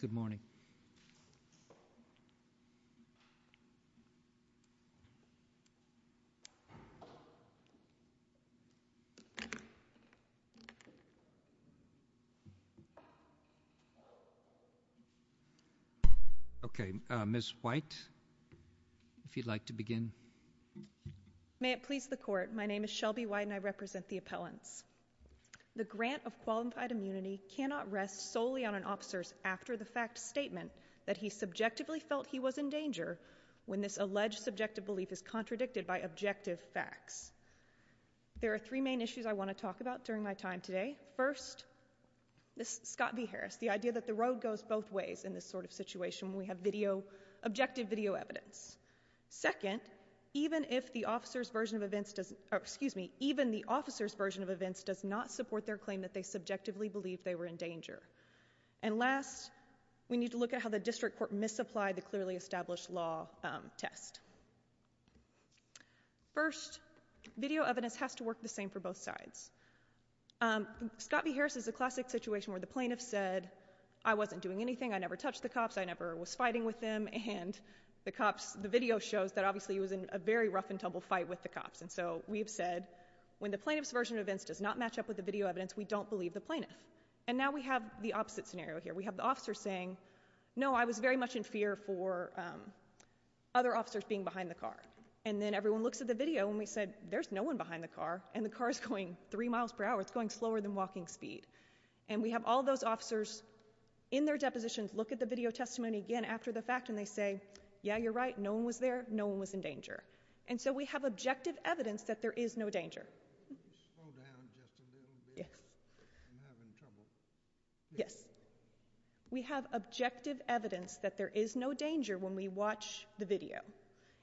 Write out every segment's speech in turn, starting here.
Good morning. Okay, Ms. White, if you'd like to begin. May it please the court, my name is Shelby White and I represent the appellants. The grant of qualified immunity cannot rest solely on an officer's after the fact statement that he subjectively felt he was in danger when this alleged subjective belief is contradicted by objective facts. There are three main issues I want to talk about during my time today. First, this Scott v. Harris, the idea that the road goes both ways in this sort of situation when we have video, objective video evidence. Second, even if the officer's version of events does, excuse me, even the officer's they were in danger. And last, we need to look at how the district court misapplied the clearly established law test. First, video evidence has to work the same for both sides. Scott v. Harris is a classic situation where the plaintiff said, I wasn't doing anything, I never touched the cops, I never was fighting with them, and the video shows that obviously he was in a very rough-and-tumble fight with the cops, and so we've said when the plaintiff's version of events does not match up with the video evidence, we don't believe the plaintiff. And now we have the opposite scenario here. We have the officer saying, no, I was very much in fear for other officers being behind the car. And then everyone looks at the video and we said, there's no one behind the car, and the car's going three miles per hour, it's going slower than walking speed. And we have all those officers in their depositions look at the video testimony again after the fact and they say, yeah, you're right, no one was there, no one was in danger. And so we have objective evidence that there is no danger. Yes. We have objective evidence that there is no danger when we watch the video.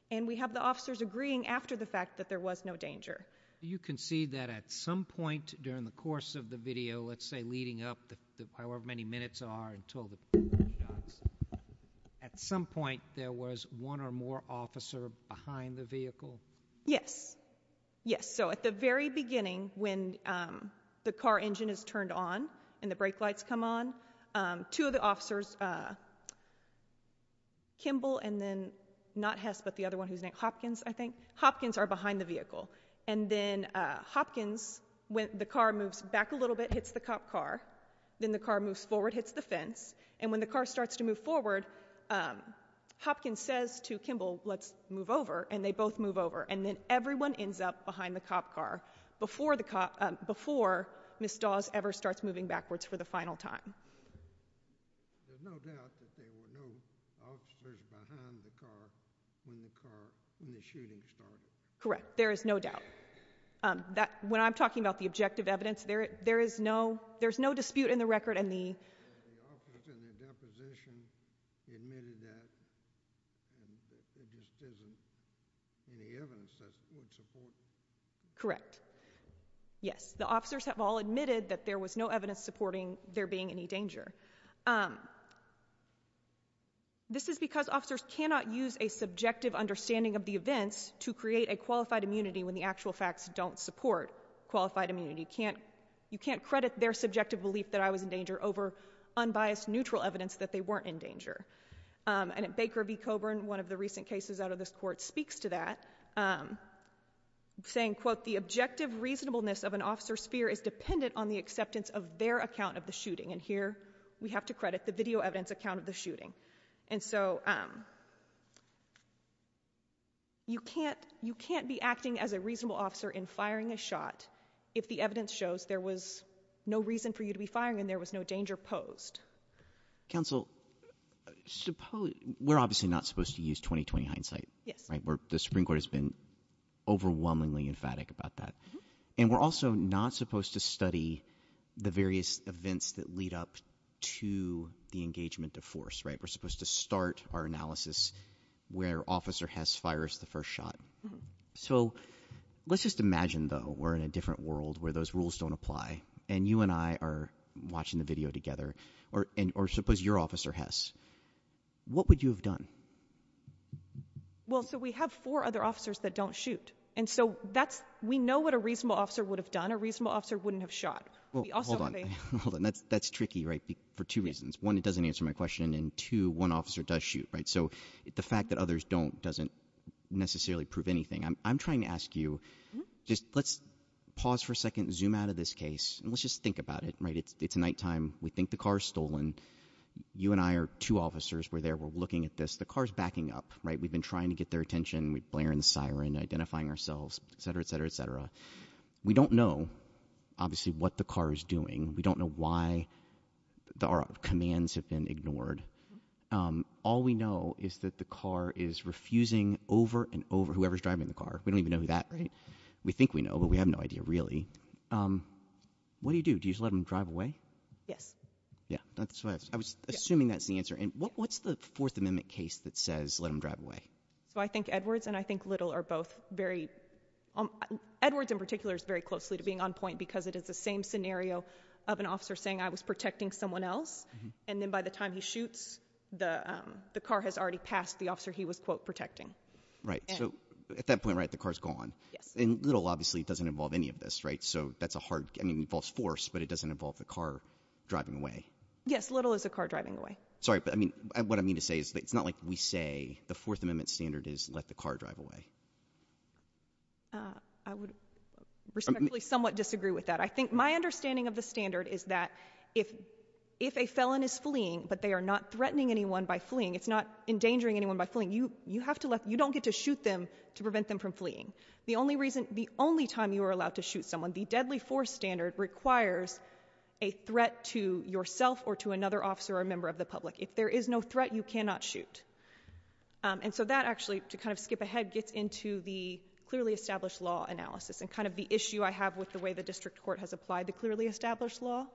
And we have the officers agreeing after the fact that there was no danger. You can see that at some point during the course of the video, let's say leading up to however many minutes are until the first shots, at some point there was one or more officer behind the vehicle? Yes. Yes. So at the very beginning when the car engine is turned on and the brake lights come on, two of the officers, Kimball and then not Hess but the other one who's named Hopkins, I think. Hopkins are behind the vehicle. And then Hopkins, when the car moves back a little bit, hits the cop car. Then the car moves forward, hits the fence. And when the car starts to move forward, Hopkins says to Kimball, let's move over, and they both move over. And then everyone ends up behind the cop car before the cop, before Ms. Dawes ever starts moving backwards for the final time. There's no doubt that there were no officers behind the car when the car, when the shooting started. Correct. There is no doubt. That, when I'm talking about the objective evidence, there, there is no, there's no dispute in the record in the. The officers in the deposition admitted that. There just isn't any evidence that would support. Correct. Yes, the officers have all admitted that there was no evidence supporting there being any danger. This is because officers cannot use a subjective understanding of the events to create a qualified immunity when the actual facts don't support qualified immunity. Can't, you can't credit their subjective belief that I was in danger over unbiased neutral evidence that they weren't in danger. And at Baker v. Coburn, one of the recent cases out of this court speaks to that, saying quote, the objective reasonableness of an officer's fear is dependent on the acceptance of their account of the shooting, and here we have to credit the video evidence account of the shooting. And so you can't, you can't be acting as a reasonable officer in firing a shot if the evidence shows there was no reason for you to be firing and there was no danger posed. Counsel, suppose, we're obviously not supposed to use 20-20 hindsight. Yes. Right? The Supreme Court has been overwhelmingly emphatic about that. And we're also not supposed to study the various events that lead up to the engagement of force, right? We're supposed to start our analysis where Officer Hess fires the first shot. So let's just imagine though, we're in a different world where those rules don't apply, and you and I are watching the video together, or suppose your officer Hess, what would you have done? Well, so we have four other officers that don't shoot. And so that's, we know what a reasonable officer would have done. A reasonable officer wouldn't have shot. We also- Hold on, hold on, that's tricky, right? For two reasons. One, it doesn't answer my question, and two, one officer does shoot, right? So the fact that others don't doesn't necessarily prove anything. I'm trying to ask you, just let's pause for a second, zoom out of this case, and let's just think about it, right? It's nighttime, we think the car's stolen. You and I are two officers, we're there, we're looking at this, the car's backing up, right? We've been trying to get their attention, we're blaring the siren, identifying ourselves, etc., etc., etc. We don't know, obviously, what the car is doing. We don't know why our commands have been ignored. All we know is that the car is refusing over and over, whoever's driving the car. We don't even know that, right? We think we know, but we have no idea, really. What do you do, do you just let them drive away? Yes. Yeah, that's what I was assuming that's the answer. And what's the Fourth Amendment case that says let them drive away? So I think Edwards and I think Little are both very, Edwards in particular is very closely to being on point, because it is the same scenario of an officer saying I was protecting someone else. And then by the time he shoots, the car has already passed the officer he was, quote, protecting. Right, so at that point, right, the car's gone. Yes. And Little, obviously, doesn't involve any of this, right? So that's a hard, I mean, it involves force, but it doesn't involve the car driving away. Yes, Little is a car driving away. Sorry, but I mean, what I mean to say is that it's not like we say the Fourth Amendment standard is let the car drive away. I would respectfully somewhat disagree with that. I think my understanding of the standard is that if a felon is fleeing, but they are not threatening anyone by fleeing, it's not endangering anyone by fleeing. You have to let, you don't get to shoot them to prevent them from fleeing. The only reason, the only time you are allowed to shoot someone, the deadly force standard requires a threat to yourself or to another officer or member of the public. If there is no threat, you cannot shoot. And so that actually, to kind of skip ahead, gets into the clearly established law analysis and kind of the issue I have with the way the district court has applied the clearly established law.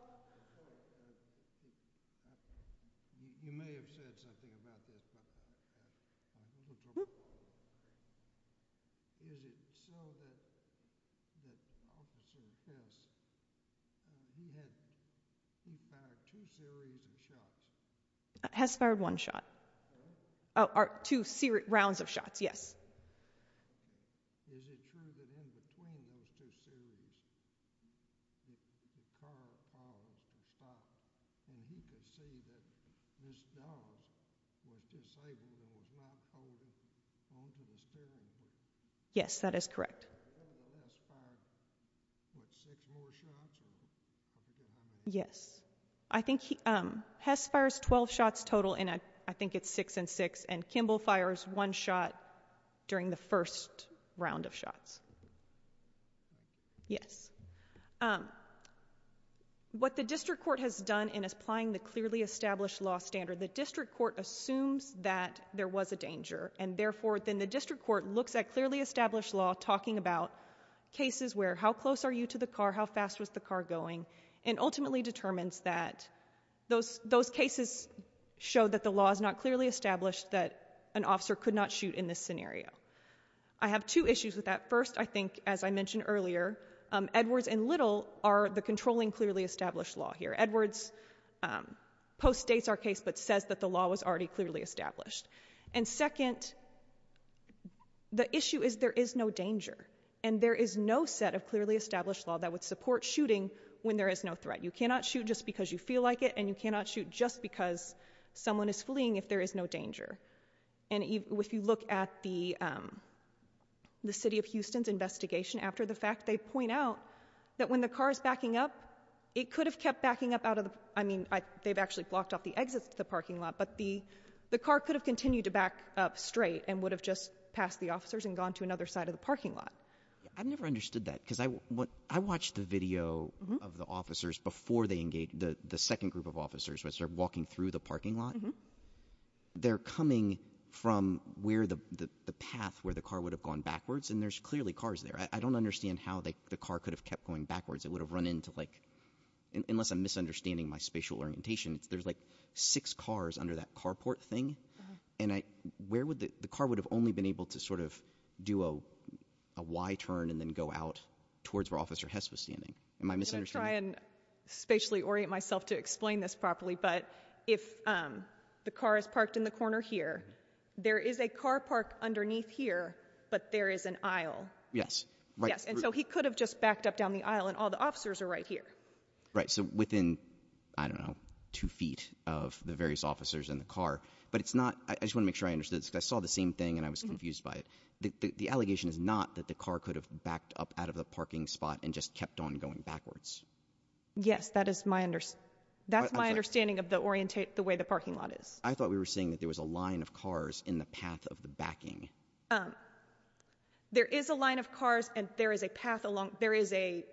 You may have said something about this, but is it so that the officer in this, he had, he fired two series of shots. Has fired one shot. Or two rounds of shots, yes. Is it true that in between those two series, the car always would stop and he could see that this dog was disabled and was not holding on to the steering wheel? Yes, that is correct. Has fired, what, six more shots, or I forget how many? Yes. I think he, Hess fires 12 shots total, and I think it's six and six. And Kimball fires one shot during the first round of shots. Yes. What the district court has done in applying the clearly established law standard. The district court assumes that there was a danger. And therefore, then the district court looks at clearly established law talking about cases where how close are you to the car, how fast was the car going. And ultimately determines that those, those cases show that the law is not clearly established that an officer could not shoot in this scenario. I have two issues with that. First, I think, as I mentioned earlier, Edwards and Little are the controlling clearly established law here. Edwards postdates our case, but says that the law was already clearly established. And second, the issue is there is no danger. And there is no set of clearly established law that would support shooting when there is no threat. You cannot shoot just because you feel like it, and you cannot shoot just because someone is fleeing if there is no danger. And if you look at the, the city of Houston's investigation after the fact, they point out that when the car is backing up, it could have kept backing up out of, I mean, they've actually blocked off the exits to the parking lot. But the, the car could have continued to back up straight and would have just passed the officers and gone to another side of the parking lot. I've never understood that because I, what, I watched the video of the officers before they engaged, the, the second group of officers, as they're walking through the parking lot. Mm-hm. They're coming from where the, the, the path where the car would have gone backwards. And there's clearly cars there. I, I don't understand how they, the car could have kept going backwards. It would have run into like, unless I'm misunderstanding my spatial orientation. There's like six cars under that carport thing. And I, where would the, the car would have only been able to sort of do a, a Y turn and then go out towards where Officer Hess was standing. Am I misunderstanding? I'm gonna try and spatially orient myself to explain this properly. But if the car is parked in the corner here, there is a car park underneath here, but there is an aisle. Yes. Right. Yes. And so he could have just backed up down the aisle and all the officers are right here. Right. So within, I don't know, two feet of the various officers in the car. But it's not, I, I just wanna make sure I understood this because I saw the same thing and I was confused by it. The, the, the allegation is not that the car could have backed up out of the parking spot and just kept on going backwards. Yes, that is my understanding. That's my understanding of the orientate, the way the parking lot is. I thought we were saying that there was a line of cars in the path of the backing. There is a line of cars and there is a path along, there is a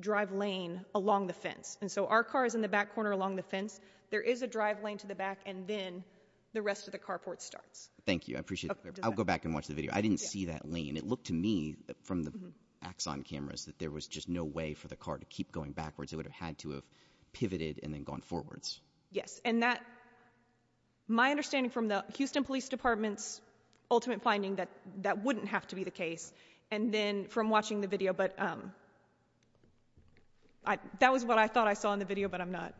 drive lane along the fence. And so our car is in the back corner along the fence. There is a drive lane to the back and then the rest of the carport starts. Thank you, I appreciate it. I'll go back and watch the video. I didn't see that lane. It looked to me from the axon cameras that there was just no way for the car to keep going backwards. It would have had to have pivoted and then gone forwards. Yes, and that, my understanding from the Houston Police Department's ultimate finding that, that wouldn't have to be the case, and then from watching the video. But I, that was what I thought I saw in the video, but I'm not.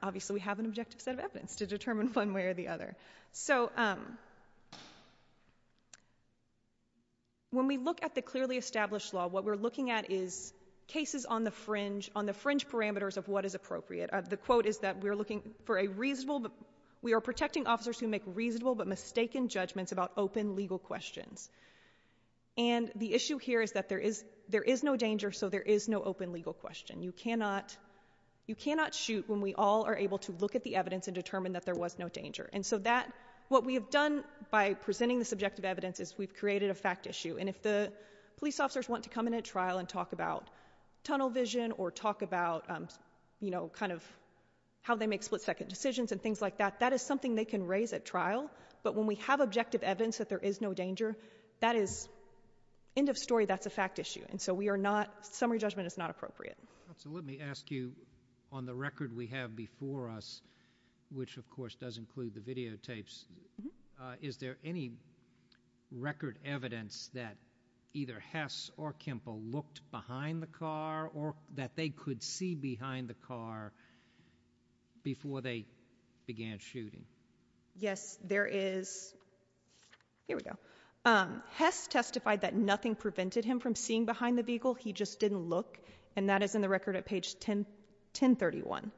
Obviously we have an objective set of evidence to determine one way or the other. So when we look at the clearly established law, what we're looking at is cases on the fringe, on the fringe parameters of what is appropriate. The quote is that we are looking for a reasonable, we are protecting officers who make reasonable but mistaken judgments about open legal questions. And the issue here is that there is, there is no danger, so there is no open legal question. You cannot, you cannot shoot when we all are able to look at the evidence and determine that there was no danger. And so that, what we have done by presenting the subjective evidence is we've created a fact issue, and if the police officers want to come in at trial and talk about tunnel vision or talk about, you know, kind of how they make split second decisions and things like that. That is something they can raise at trial, but when we have objective evidence that there is no danger, that is, end of story, that's a fact issue, and so we are not, summary judgment is not appropriate. So let me ask you, on the record we have before us, which of course does include the videotapes. Is there any record evidence that either Hess or Kimple looked behind the car or that they could see behind the car before they began shooting? Yes, there is, here we go. Hess testified that nothing prevented him from seeing behind the vehicle, he just didn't look. And that is in the record at page 1031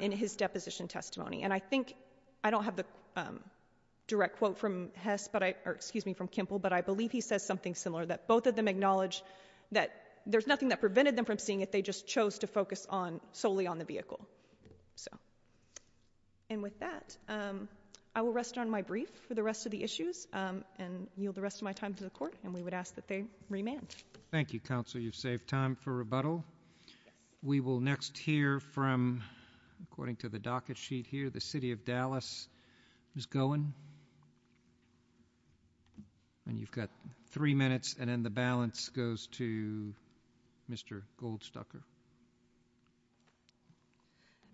in his deposition testimony. And I think, I don't have the direct quote from Hess, or excuse me, from Kimple, but I believe he says something similar, that both of them acknowledge that there's nothing that prevented them from seeing it, they just chose to focus solely on the vehicle, so. And with that, I will rest on my brief for the rest of the issues, and yield the rest of my time to the court, and we would ask that they remand. Thank you, Counsel, you've saved time for rebuttal. We will next hear from, according to the docket sheet here, the city of Dallas, Ms. Gowen. And you've got three minutes, and then the balance goes to Mr. Goldstucker.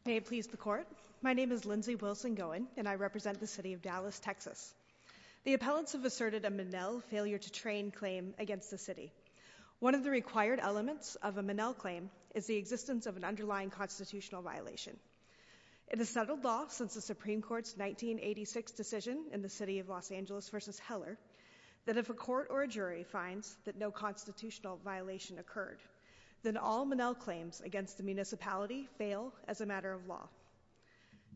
May it please the court. My name is Lindsay Wilson Gowen, and I represent the city of Dallas, Texas. The appellants have asserted a Manel failure to train claim against the city. One of the required elements of a Manel claim is the existence of an underlying constitutional violation. It is settled law since the Supreme Court's 1986 decision in the city of Los Angeles versus Heller, that if a court or a jury finds that no constitutional violation occurred, then all Manel claims against the municipality fail as a matter of law.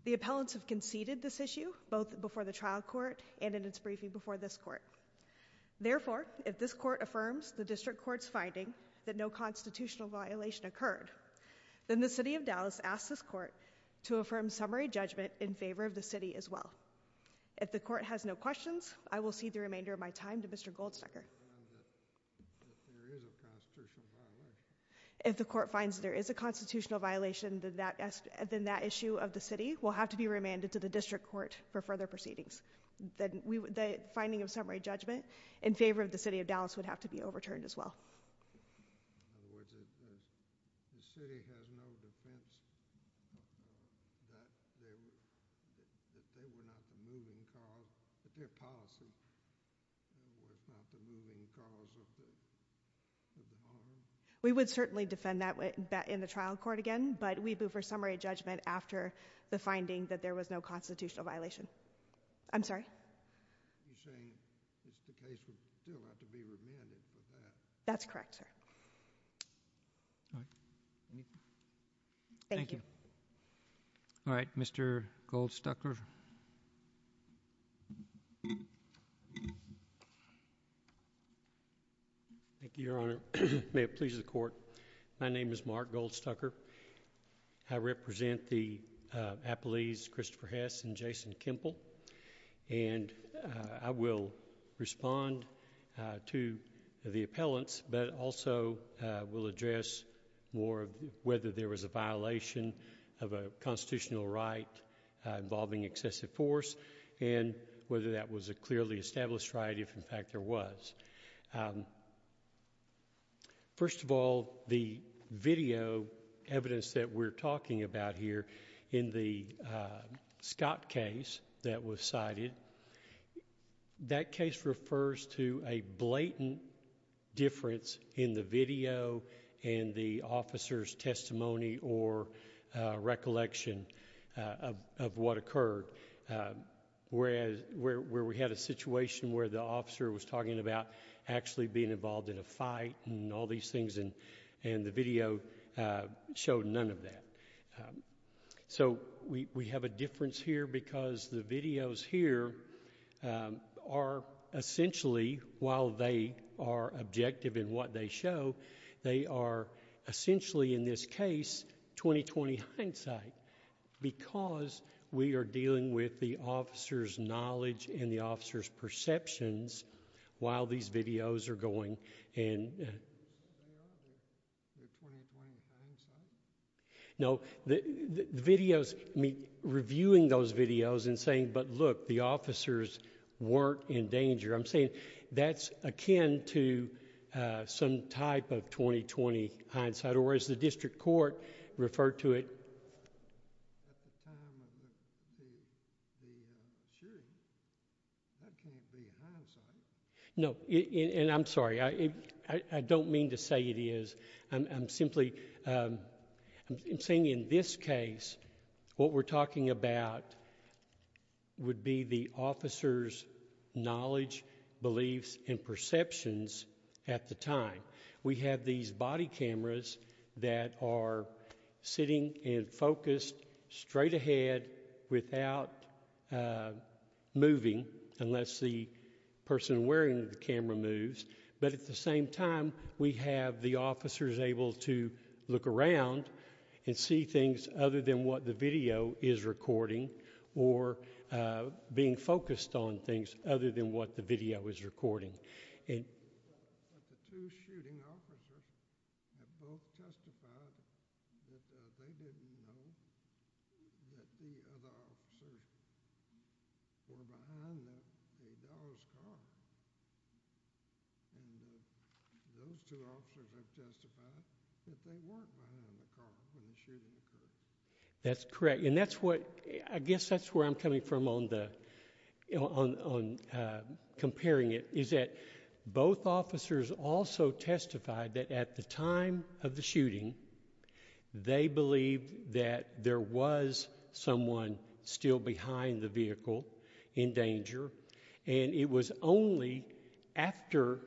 The appellants have conceded this issue, both before the trial court and in its briefing before this court. Therefore, if this court affirms the district court's finding that no constitutional violation occurred, then the city of Dallas asks this court to affirm summary judgment in favor of the city as well. If the court has no questions, I will cede the remainder of my time to Mr. Goldstucker. If the court finds there is a constitutional violation, then that issue of the city will have to be remanded to the district court for further proceedings. The finding of summary judgment in favor of the city of Dallas would have to be overturned as well. In other words, if the city has no defense that they were not the moving cause of the bombings? We would certainly defend that in the trial court again, but we'd move for summary judgment after the finding that there was no constitutional violation. I'm sorry? You're saying the case would still have to be remanded for that? That's correct, sir. All right. Thank you. Thank you. All right, Mr. Goldstucker. Thank you, Your Honor. May it please the court. My name is Mark Goldstucker. I represent the Appellees Christopher Hess and Jason Kempel, and I will respond to the appellants, but also will address more of whether there was a violation of a constitutional right involving excessive force, and whether that was a clearly established right if, in fact, there was. First of all, the video evidence that we're talking about here in the Scott case that was cited, that case refers to a blatant difference in the video and the officer's testimony or recollection of what occurred, where we had a situation where the officer was talking about excessive force. Actually being involved in a fight and all these things, and the video showed none of that. So we have a difference here because the videos here are essentially, while they are objective in what they show, they are essentially, in this case, 20-20 hindsight because we are dealing with the officer's knowledge and the officer's perceptions while these videos are going. No, the videos, I mean, reviewing those videos and saying, but look, the officers weren't in danger. I'm saying that's akin to some type of 20-20 hindsight, or as the district court referred to it. No, and I'm sorry, I don't mean to say it is. I'm simply saying in this case, what we're talking about would be the officer's knowledge, beliefs, and perceptions at the time. We have these body cameras that are sitting and focused straight ahead without moving, unless the person wearing the camera moves. But at the same time, we have the officers able to look around and see things other than what the video is recording or being focused on things other than what the video is recording. But the two shooting officers have both testified that they didn't know that the other officers were behind the dog's car, and those two officers have testified that they weren't behind the car when the shooting occurred. That's correct, and that's what, I guess that's where I'm coming from on the, on comparing it. Is that both officers also testified that at the time of the shooting, they believed that there was someone still behind the vehicle in danger, and it was only after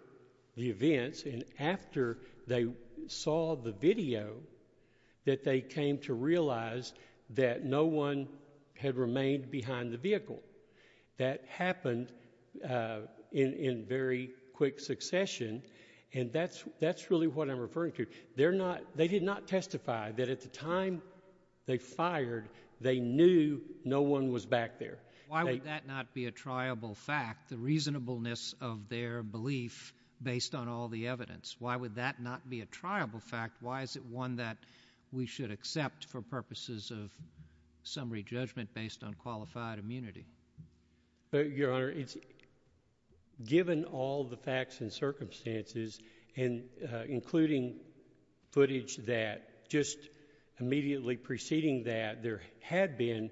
the events and after they saw the video that they came to realize that no one had remained behind the vehicle. That happened in very quick succession, and that's really what I'm referring to. They're not, they did not testify that at the time they fired, they knew no one was back there. Why would that not be a triable fact, the reasonableness of their belief based on all the evidence? Why would that not be a triable fact? Why is it one that we should accept for purposes of summary judgment based on qualified immunity? Your Honor, it's given all the facts and circumstances, and including footage that just immediately preceding that, there had been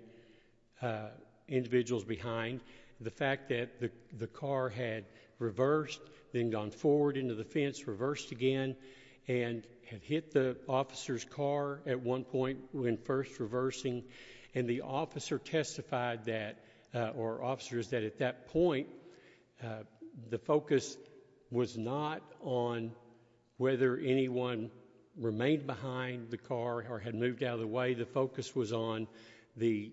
individuals behind. The fact that the car had reversed, then gone forward into the fence, reversed again, and had hit the officer's car at one point when first reversing. And the officer testified that, or officers, that at that point, the focus was not on whether anyone remained behind the car or had moved out of the way. The focus was on the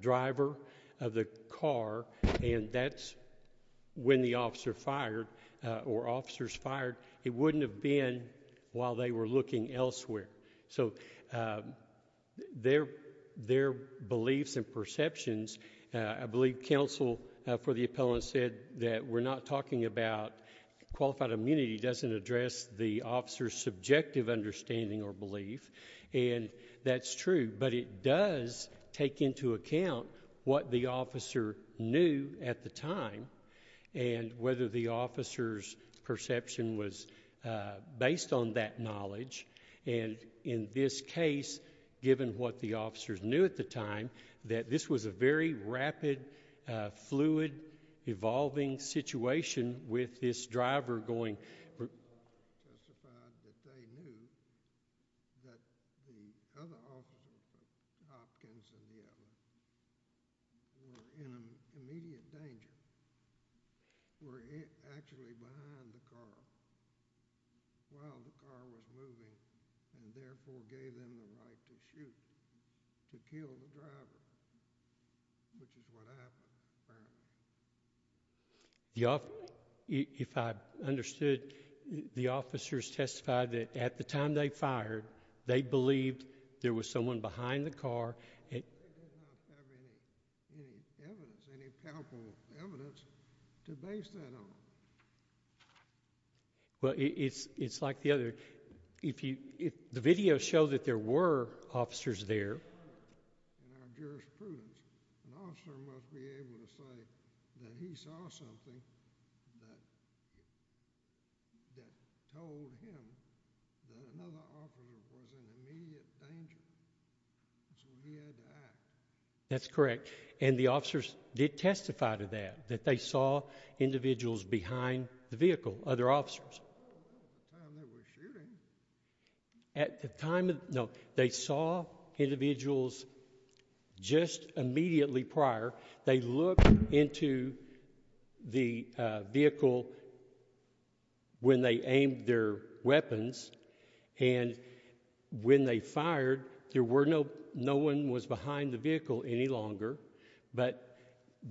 driver of the car, and that's when the officer fired, or officers fired. It wouldn't have been while they were looking elsewhere. So their beliefs and perceptions, I believe counsel for the appellant said that we're not talking about qualified immunity. It doesn't address the officer's subjective understanding or belief. And that's true, but it does take into account what the officer knew at the time, and whether the officer's perception was based on that knowledge. And in this case, given what the officers knew at the time, that this was a very rapid, fluid, evolving situation with this driver going. The officer testified that they knew that the other officers, the Hopkins and the others, were in immediate danger, were actually behind the car while the car was moving, and therefore gave them the right to shoot, to kill the driver, which is what happened, apparently. If I understood, the officers testified that at the time they fired, they believed there was someone behind the car. They did not have any evidence, any powerful evidence to base that on. Well, it's like the other, if the video showed that there were officers there. In our jurisprudence, an officer must be able to say that he saw something that told him that another officer was in immediate danger, so he had to act. That's correct, and the officers did testify to that, that they saw individuals behind the vehicle, other officers. At the time they were shooting. At the time, no, they saw individuals just immediately prior. They looked into the vehicle when they aimed their weapons, and when they fired, there were no, no one was behind the vehicle any longer, but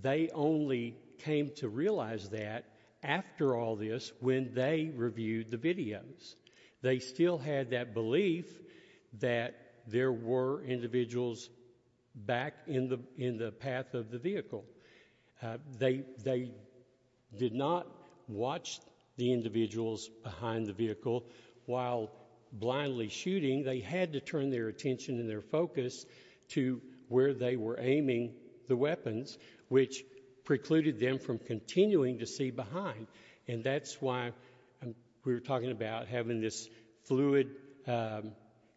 they only came to realize that after all this when they reviewed the videos. They still had that belief that there were individuals back in the path of the vehicle. They did not watch the individuals behind the vehicle while blindly shooting. They had to turn their attention and their focus to where they were aiming the weapons, which precluded them from continuing to see behind, and that's why we're talking about having this fluid,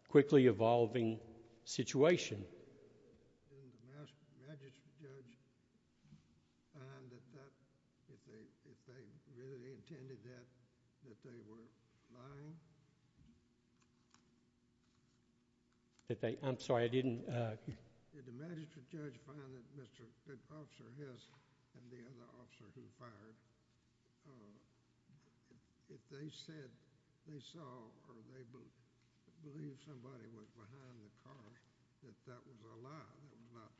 quickly evolving situation. Did the magistrate judge find that if they really intended that, that they were lying? I'm sorry, I didn't— Did the magistrate judge find that Mr. Hiss and the other officer who fired, if they said they saw or they believed somebody was behind the car, that that was a lie, that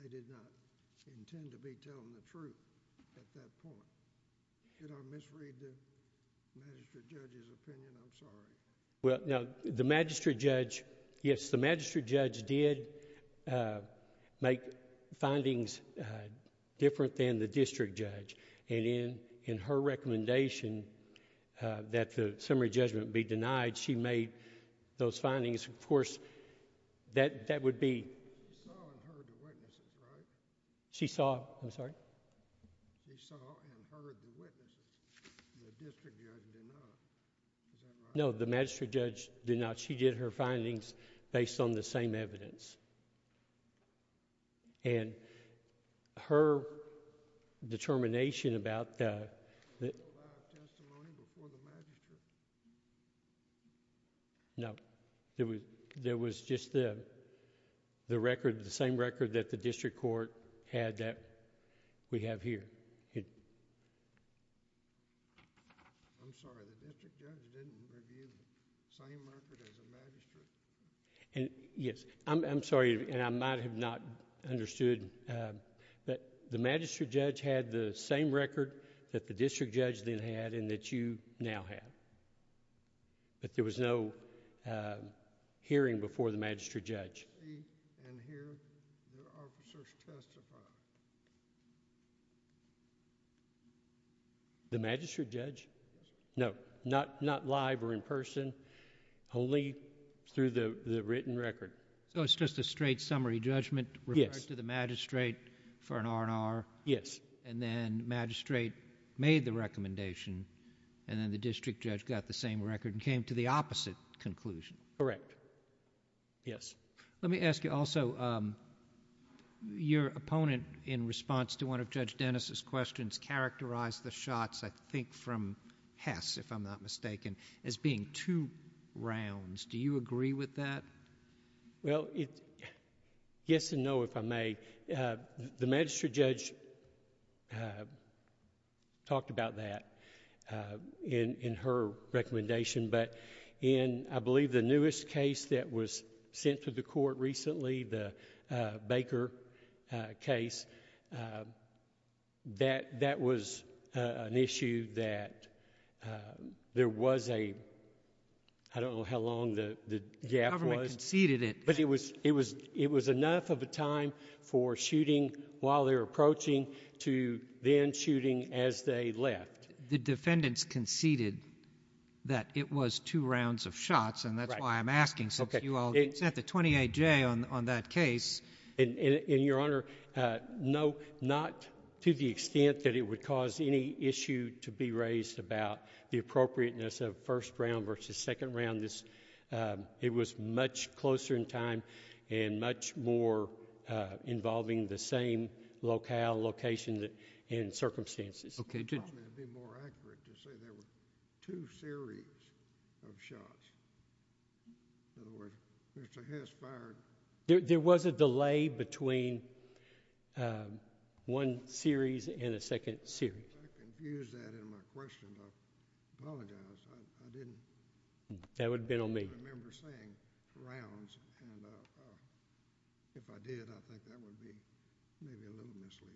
they did not intend to be telling the truth at that point? Did I misread the magistrate judge's opinion? I'm sorry. Well, no, the magistrate judge, yes, the magistrate judge did make findings different than the district judge, and in her recommendation that the summary judgment be denied, she made those findings. Of course, that would be... She saw and heard the witnesses, right? She saw, I'm sorry? She saw and heard the witnesses. The district judge did not. Is that right? No, the magistrate judge did not. She did her findings based on the same evidence. And her determination about the... Was there a lot of testimony before the magistrate? No. There was just the record, the same record that the district court had that we have here. I'm sorry, the district judge didn't review the same record as the magistrate? Yes. I'm sorry, and I might have not understood. The magistrate judge had the same record that the district judge then had and that you now have, but there was no hearing before the magistrate judge. She saw and heard the officers testify. The magistrate judge? Yes. No. Not live or in person, only through the written record. So it's just a straight summary judgment... Yes.... referred to the magistrate for an R&R... Yes.... and then magistrate made the recommendation and then the district judge got the same record and came to the opposite conclusion. Correct. Yes. Let me ask you also, your opponent in response to one of Judge Dennis' questions characterized the shots, I think from Hess, if I'm not mistaken, as being two rounds. Do you agree with that? Well, yes and no, if I may. The magistrate judge talked about that in her recommendation, but in, I believe, the newest case that was sent to the court recently, the Baker case, that was an issue that there was a... I don't know how long the gap was... The government conceded it. But it was enough of a time for shooting while they were approaching to then shooting as they left. The defendants conceded that it was two rounds of shots... Right.... and that's why I'm asking since you all set the 28-J on that case. And, Your Honor, no, not to the extent that it would cause any issue to be raised about the appropriateness of first round versus second round. It was much closer in time and much more involving the same locale, location, and circumstances. It would probably be more accurate to say there were two series of shots. In other words, Mr. Hess fired... There was a delay between one series and a second series. I confused that in my question. I apologize. I didn't... That would have been on me.... remember saying rounds, and if I did, I think that would be maybe a little misleading.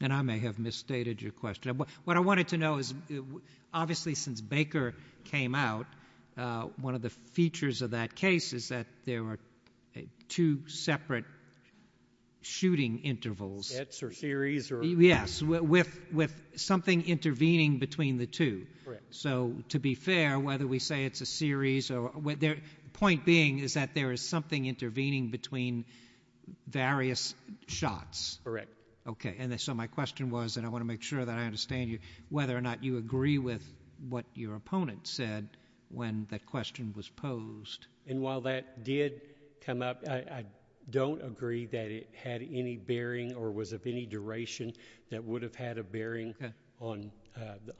And I may have misstated your question. What I wanted to know is obviously since Baker came out, one of the features of that case is that there were two separate shooting intervals. Sets or series or... Yes, with something intervening between the two. Correct. So, to be fair, whether we say it's a series or... Point being is that there is something intervening between various shots. Correct. Okay. So my question was, and I want to make sure that I understand you, whether or not you agree with what your opponent said when that question was posed. And while that did come up, I don't agree that it had any bearing or was of any duration that would have had a bearing on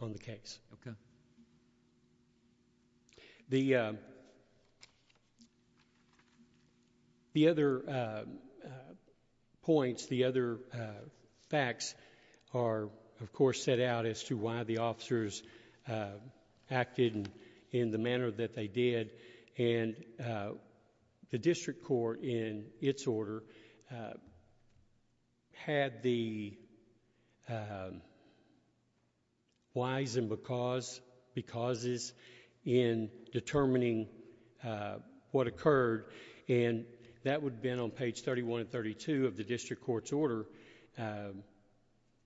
the case. Okay. The other points, the other facts are, of course, set out as to why the officers acted in the manner that they did. And the district court in its order had the whys and becauses in determining what occurred and that would have been on page thirty-one and thirty-two of the district court's order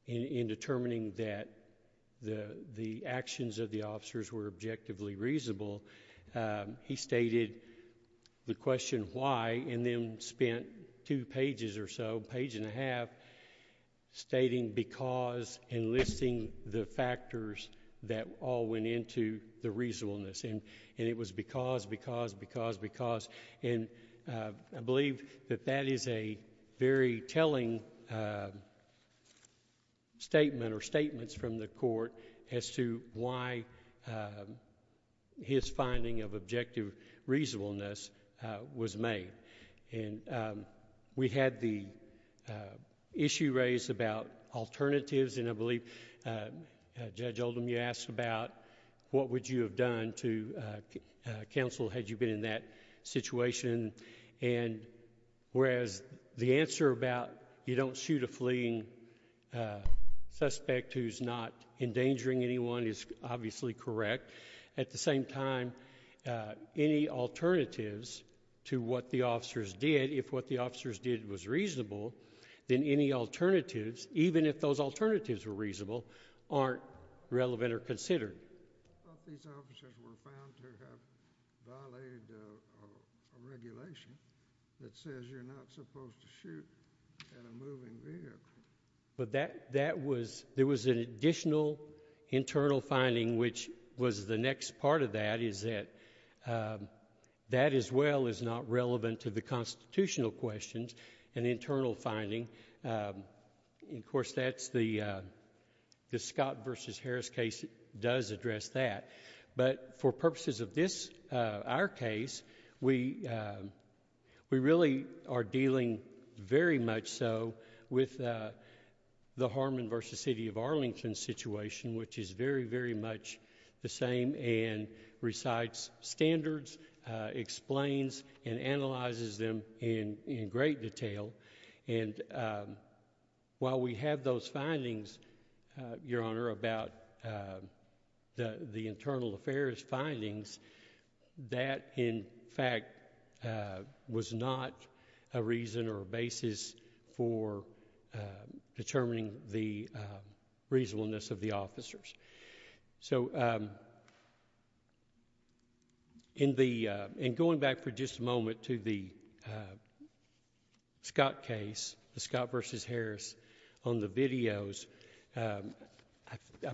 in determining that the actions of the officers were objectively reasonable. He stated the question why and then spent two pages or so, page and a half, stating because and listing the factors that all went into the reasonableness. And it was because, because, because, because. And I believe that that is a very telling statement or statements from the court as to why his finding of objective reasonableness was made. And we had the issue raised about alternatives and I believe Judge Oldham, you asked about what would you have done to counsel had you been in that situation. And whereas the answer about you don't shoot a fleeing suspect who's not endangering anyone is obviously correct. At the same time, any alternatives to what the officers did, if what the officers did was reasonable, then any alternatives, even if those alternatives were reasonable, aren't relevant or considered. I thought these officers were found to have violated a regulation that says you're not supposed to shoot at a moving vehicle. But that was, there was an additional internal finding which was the next part of that is that that as well is not relevant to the constitutional questions, an internal finding. Of course, that's the Scott v. Harris case does address that. But for purposes of this, our case, we really are dealing very much so with the Harmon v. City of Arlington situation which is very, very much the same and recites standards, explains and analyzes them in great detail. And while we have those findings, Your Honor, about the internal affairs findings, that in fact was not a reason or a basis for determining the reasonableness of the officers. So in going back for just a moment to the Scott case, the Scott v. Harris on the videos, I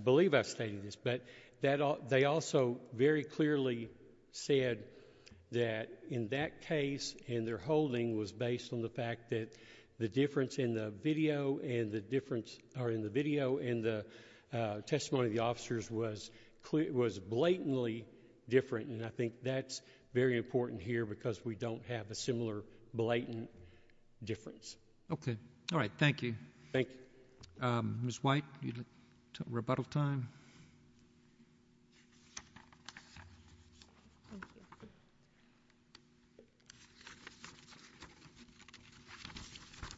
believe I've stated this, but they also very clearly said that in that case and their holding was based on the fact that the difference in the video and the testimony of the officers was blatantly different. And I think that's very important here because we don't have a similar blatant difference. Okay. All right. Thank you. Thank you. Ms. White, you'd like rebuttal time? Thank you.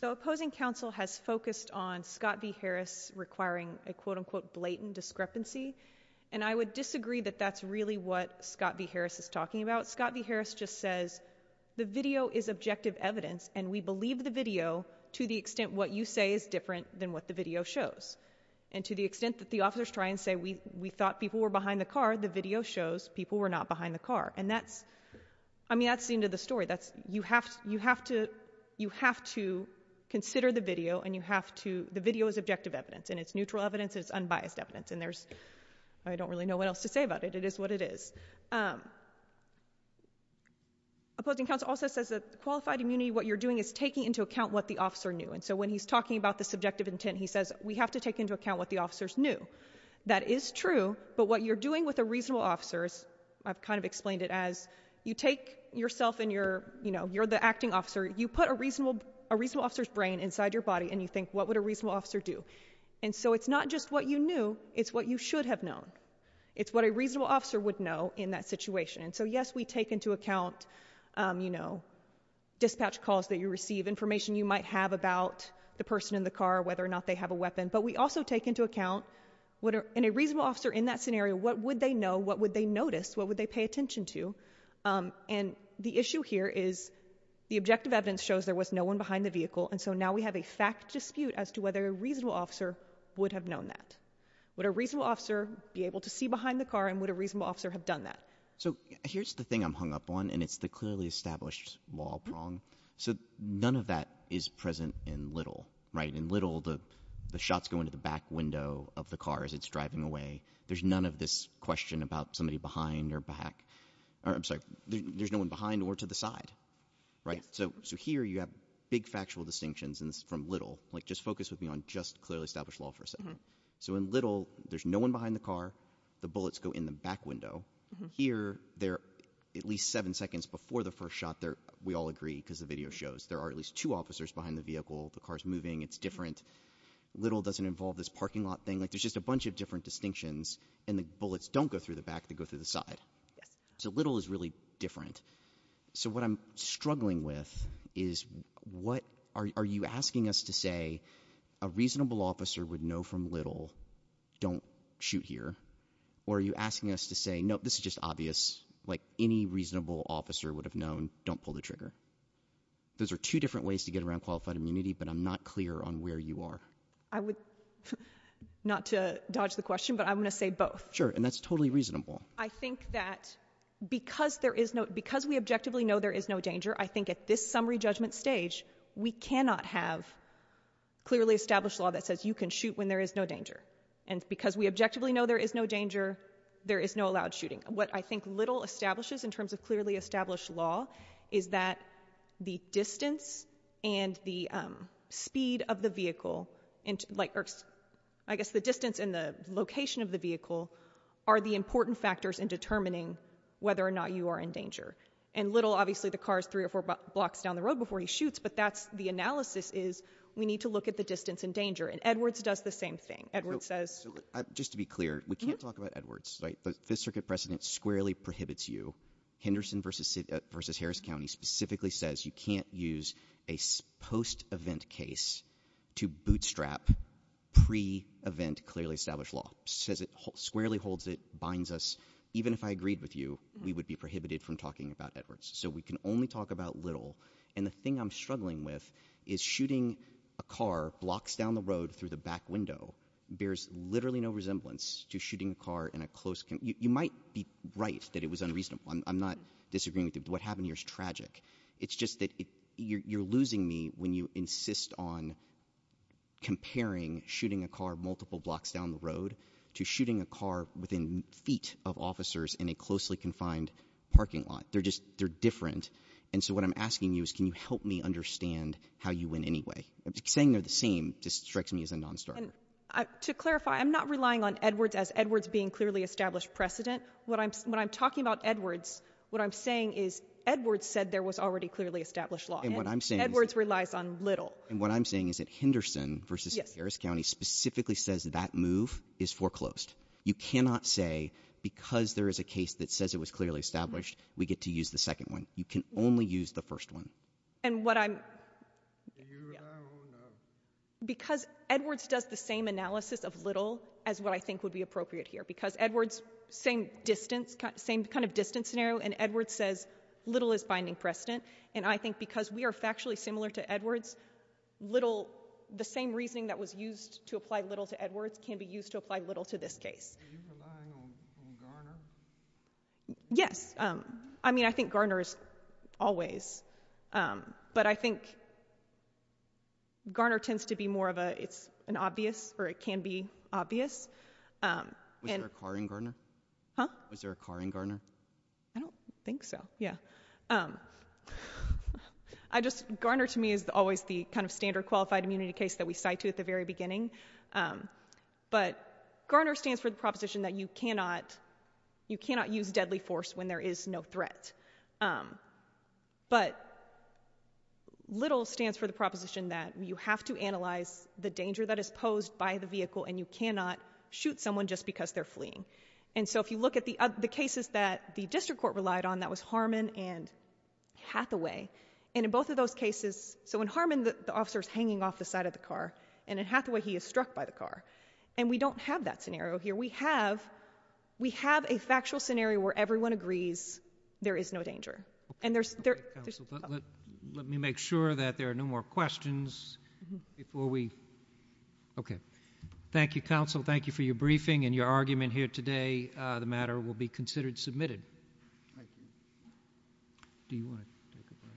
The opposing counsel has focused on Scott v. Harris requiring a quote-unquote blatant discrepancy. And I would disagree that that's really what Scott v. Harris is talking about. Scott v. Harris just says the video is objective evidence and we believe the video to the extent what you say is different than what the video shows. And to the extent that the officers try and say we thought people were behind the car, the video shows people were not behind the car. And that's the end of the story. You have to consider the video and the video is objective evidence and it's neutral evidence and it's unbiased evidence. And I don't really know what else to say about it. It is what it is. Opposing counsel also says that qualified immunity, what you're doing is taking into account what the officer knew. And so when he's talking about the subjective intent, he says we have to take into account what the officers knew. That is true, but what you're doing with a reasonable officer, I've kind of explained it as you take yourself and you're the acting officer, you put a reasonable officer's brain inside your body and you think, what would a reasonable officer do? And so it's not just what you knew, it's what you should have known. It's what a reasonable officer would know in that situation. And so, yes, we take into account dispatch calls that you receive, information you might have about the person in the car, whether or not they have a weapon. But we also take into account in a reasonable officer in that scenario, what would they know, what would they notice, what would they pay attention to? And the issue here is the objective evidence shows there was no one behind the vehicle, and so now we have a fact dispute as to whether a reasonable officer would have known that. Would a reasonable officer be able to see behind the car and would a reasonable officer have done that? So here's the thing I'm hung up on, and it's the clearly established law prong. So none of that is present in Little, right? In Little, the shots go into the back window of the car as it's driving away. There's none of this question about somebody behind or back. I'm sorry, there's no one behind or to the side, right? So here you have big factual distinctions from Little, like just focus with me on just clearly established law for a second. So in Little, there's no one behind the car. The bullets go in the back window. Here, they're at least seven seconds before the first shot. We all agree because the video shows there are at least two officers behind the vehicle. The car's moving. It's different. Little doesn't involve this parking lot thing. Like there's just a bunch of different distinctions, and the bullets don't go through the back. They go through the side. So Little is really different. So what I'm struggling with is what are you asking us to say? A reasonable officer would know from Little, don't shoot here. Or are you asking us to say, no, this is just obvious. Like any reasonable officer would have known, don't pull the trigger. Those are two different ways to get around qualified immunity, but I'm not clear on where you are. I would, not to dodge the question, but I'm going to say both. Sure, and that's totally reasonable. I think that because we objectively know there is no danger, I think at this summary judgment stage, we cannot have clearly established law that says you can shoot when there is no danger. And because we objectively know there is no danger, there is no allowed shooting. What I think Little establishes in terms of clearly established law is that the distance and the speed of the vehicle, or I guess the distance and the location of the vehicle, are the important factors in determining whether or not you are in danger. And Little, obviously the car is three or four blocks down the road before he shoots, but that's the analysis is we need to look at the distance and danger. And Edwards does the same thing. Edwards says. Just to be clear, we can't talk about Edwards. The Fifth Circuit precedent squarely prohibits you. Henderson v. Harris County specifically says you can't use a post-event case to bootstrap pre-event clearly established law. Says it squarely holds it, binds us. Even if I agreed with you, we would be prohibited from talking about Edwards. So we can only talk about Little. And the thing I'm struggling with is shooting a car blocks down the road through the back window bears literally no resemblance to shooting a car in a close. You might be right that it was unreasonable. I'm not disagreeing with you. What happened here is tragic. It's just that you're losing me when you insist on comparing shooting a car multiple blocks down the road to shooting a car within feet of officers in a closely confined parking lot. They're different. And so what I'm asking you is can you help me understand how you win anyway? Saying they're the same just strikes me as a nonstarter. To clarify, I'm not relying on Edwards as Edwards being clearly established precedent. When I'm talking about Edwards, what I'm saying is Edwards said there was already clearly established law. And Edwards relies on Little. And what I'm saying is that Henderson v. Harris County specifically says that move is foreclosed. You cannot say because there is a case that says it was clearly established, we get to use the second one. You can only use the first one. Because Edwards does the same analysis of Little as what I think would be appropriate here. Because Edwards, same kind of distance scenario, and Edwards says Little is binding precedent. And I think because we are factually similar to Edwards, the same reasoning that was used to apply Little to Edwards can be used to apply Little to this case. Are you relying on Garner? Yes. I mean, I think Garner is always. But I think Garner tends to be more of an obvious, or it can be obvious. Was there a car in Garner? Huh? Was there a car in Garner? I don't think so, yeah. Garner to me is always the kind of standard qualified immunity case that we cite to at the very beginning. But Garner stands for the proposition that you cannot use deadly force when there is no threat. But Little stands for the proposition that you have to analyze the danger that is posed by the vehicle and you cannot shoot someone just because they're fleeing. And so if you look at the cases that the district court relied on, that was Harmon and Hathaway. And in both of those cases, so in Harmon the officer is hanging off the side of the car, and in Hathaway he is struck by the car. And we don't have that scenario here. We have a factual scenario where everyone agrees there is no danger. Okay. Counsel, let me make sure that there are no more questions before we... Okay. Thank you, counsel. Thank you for your briefing and your argument here today. The matter will be considered submitted. Thank you. Do you want to take a break?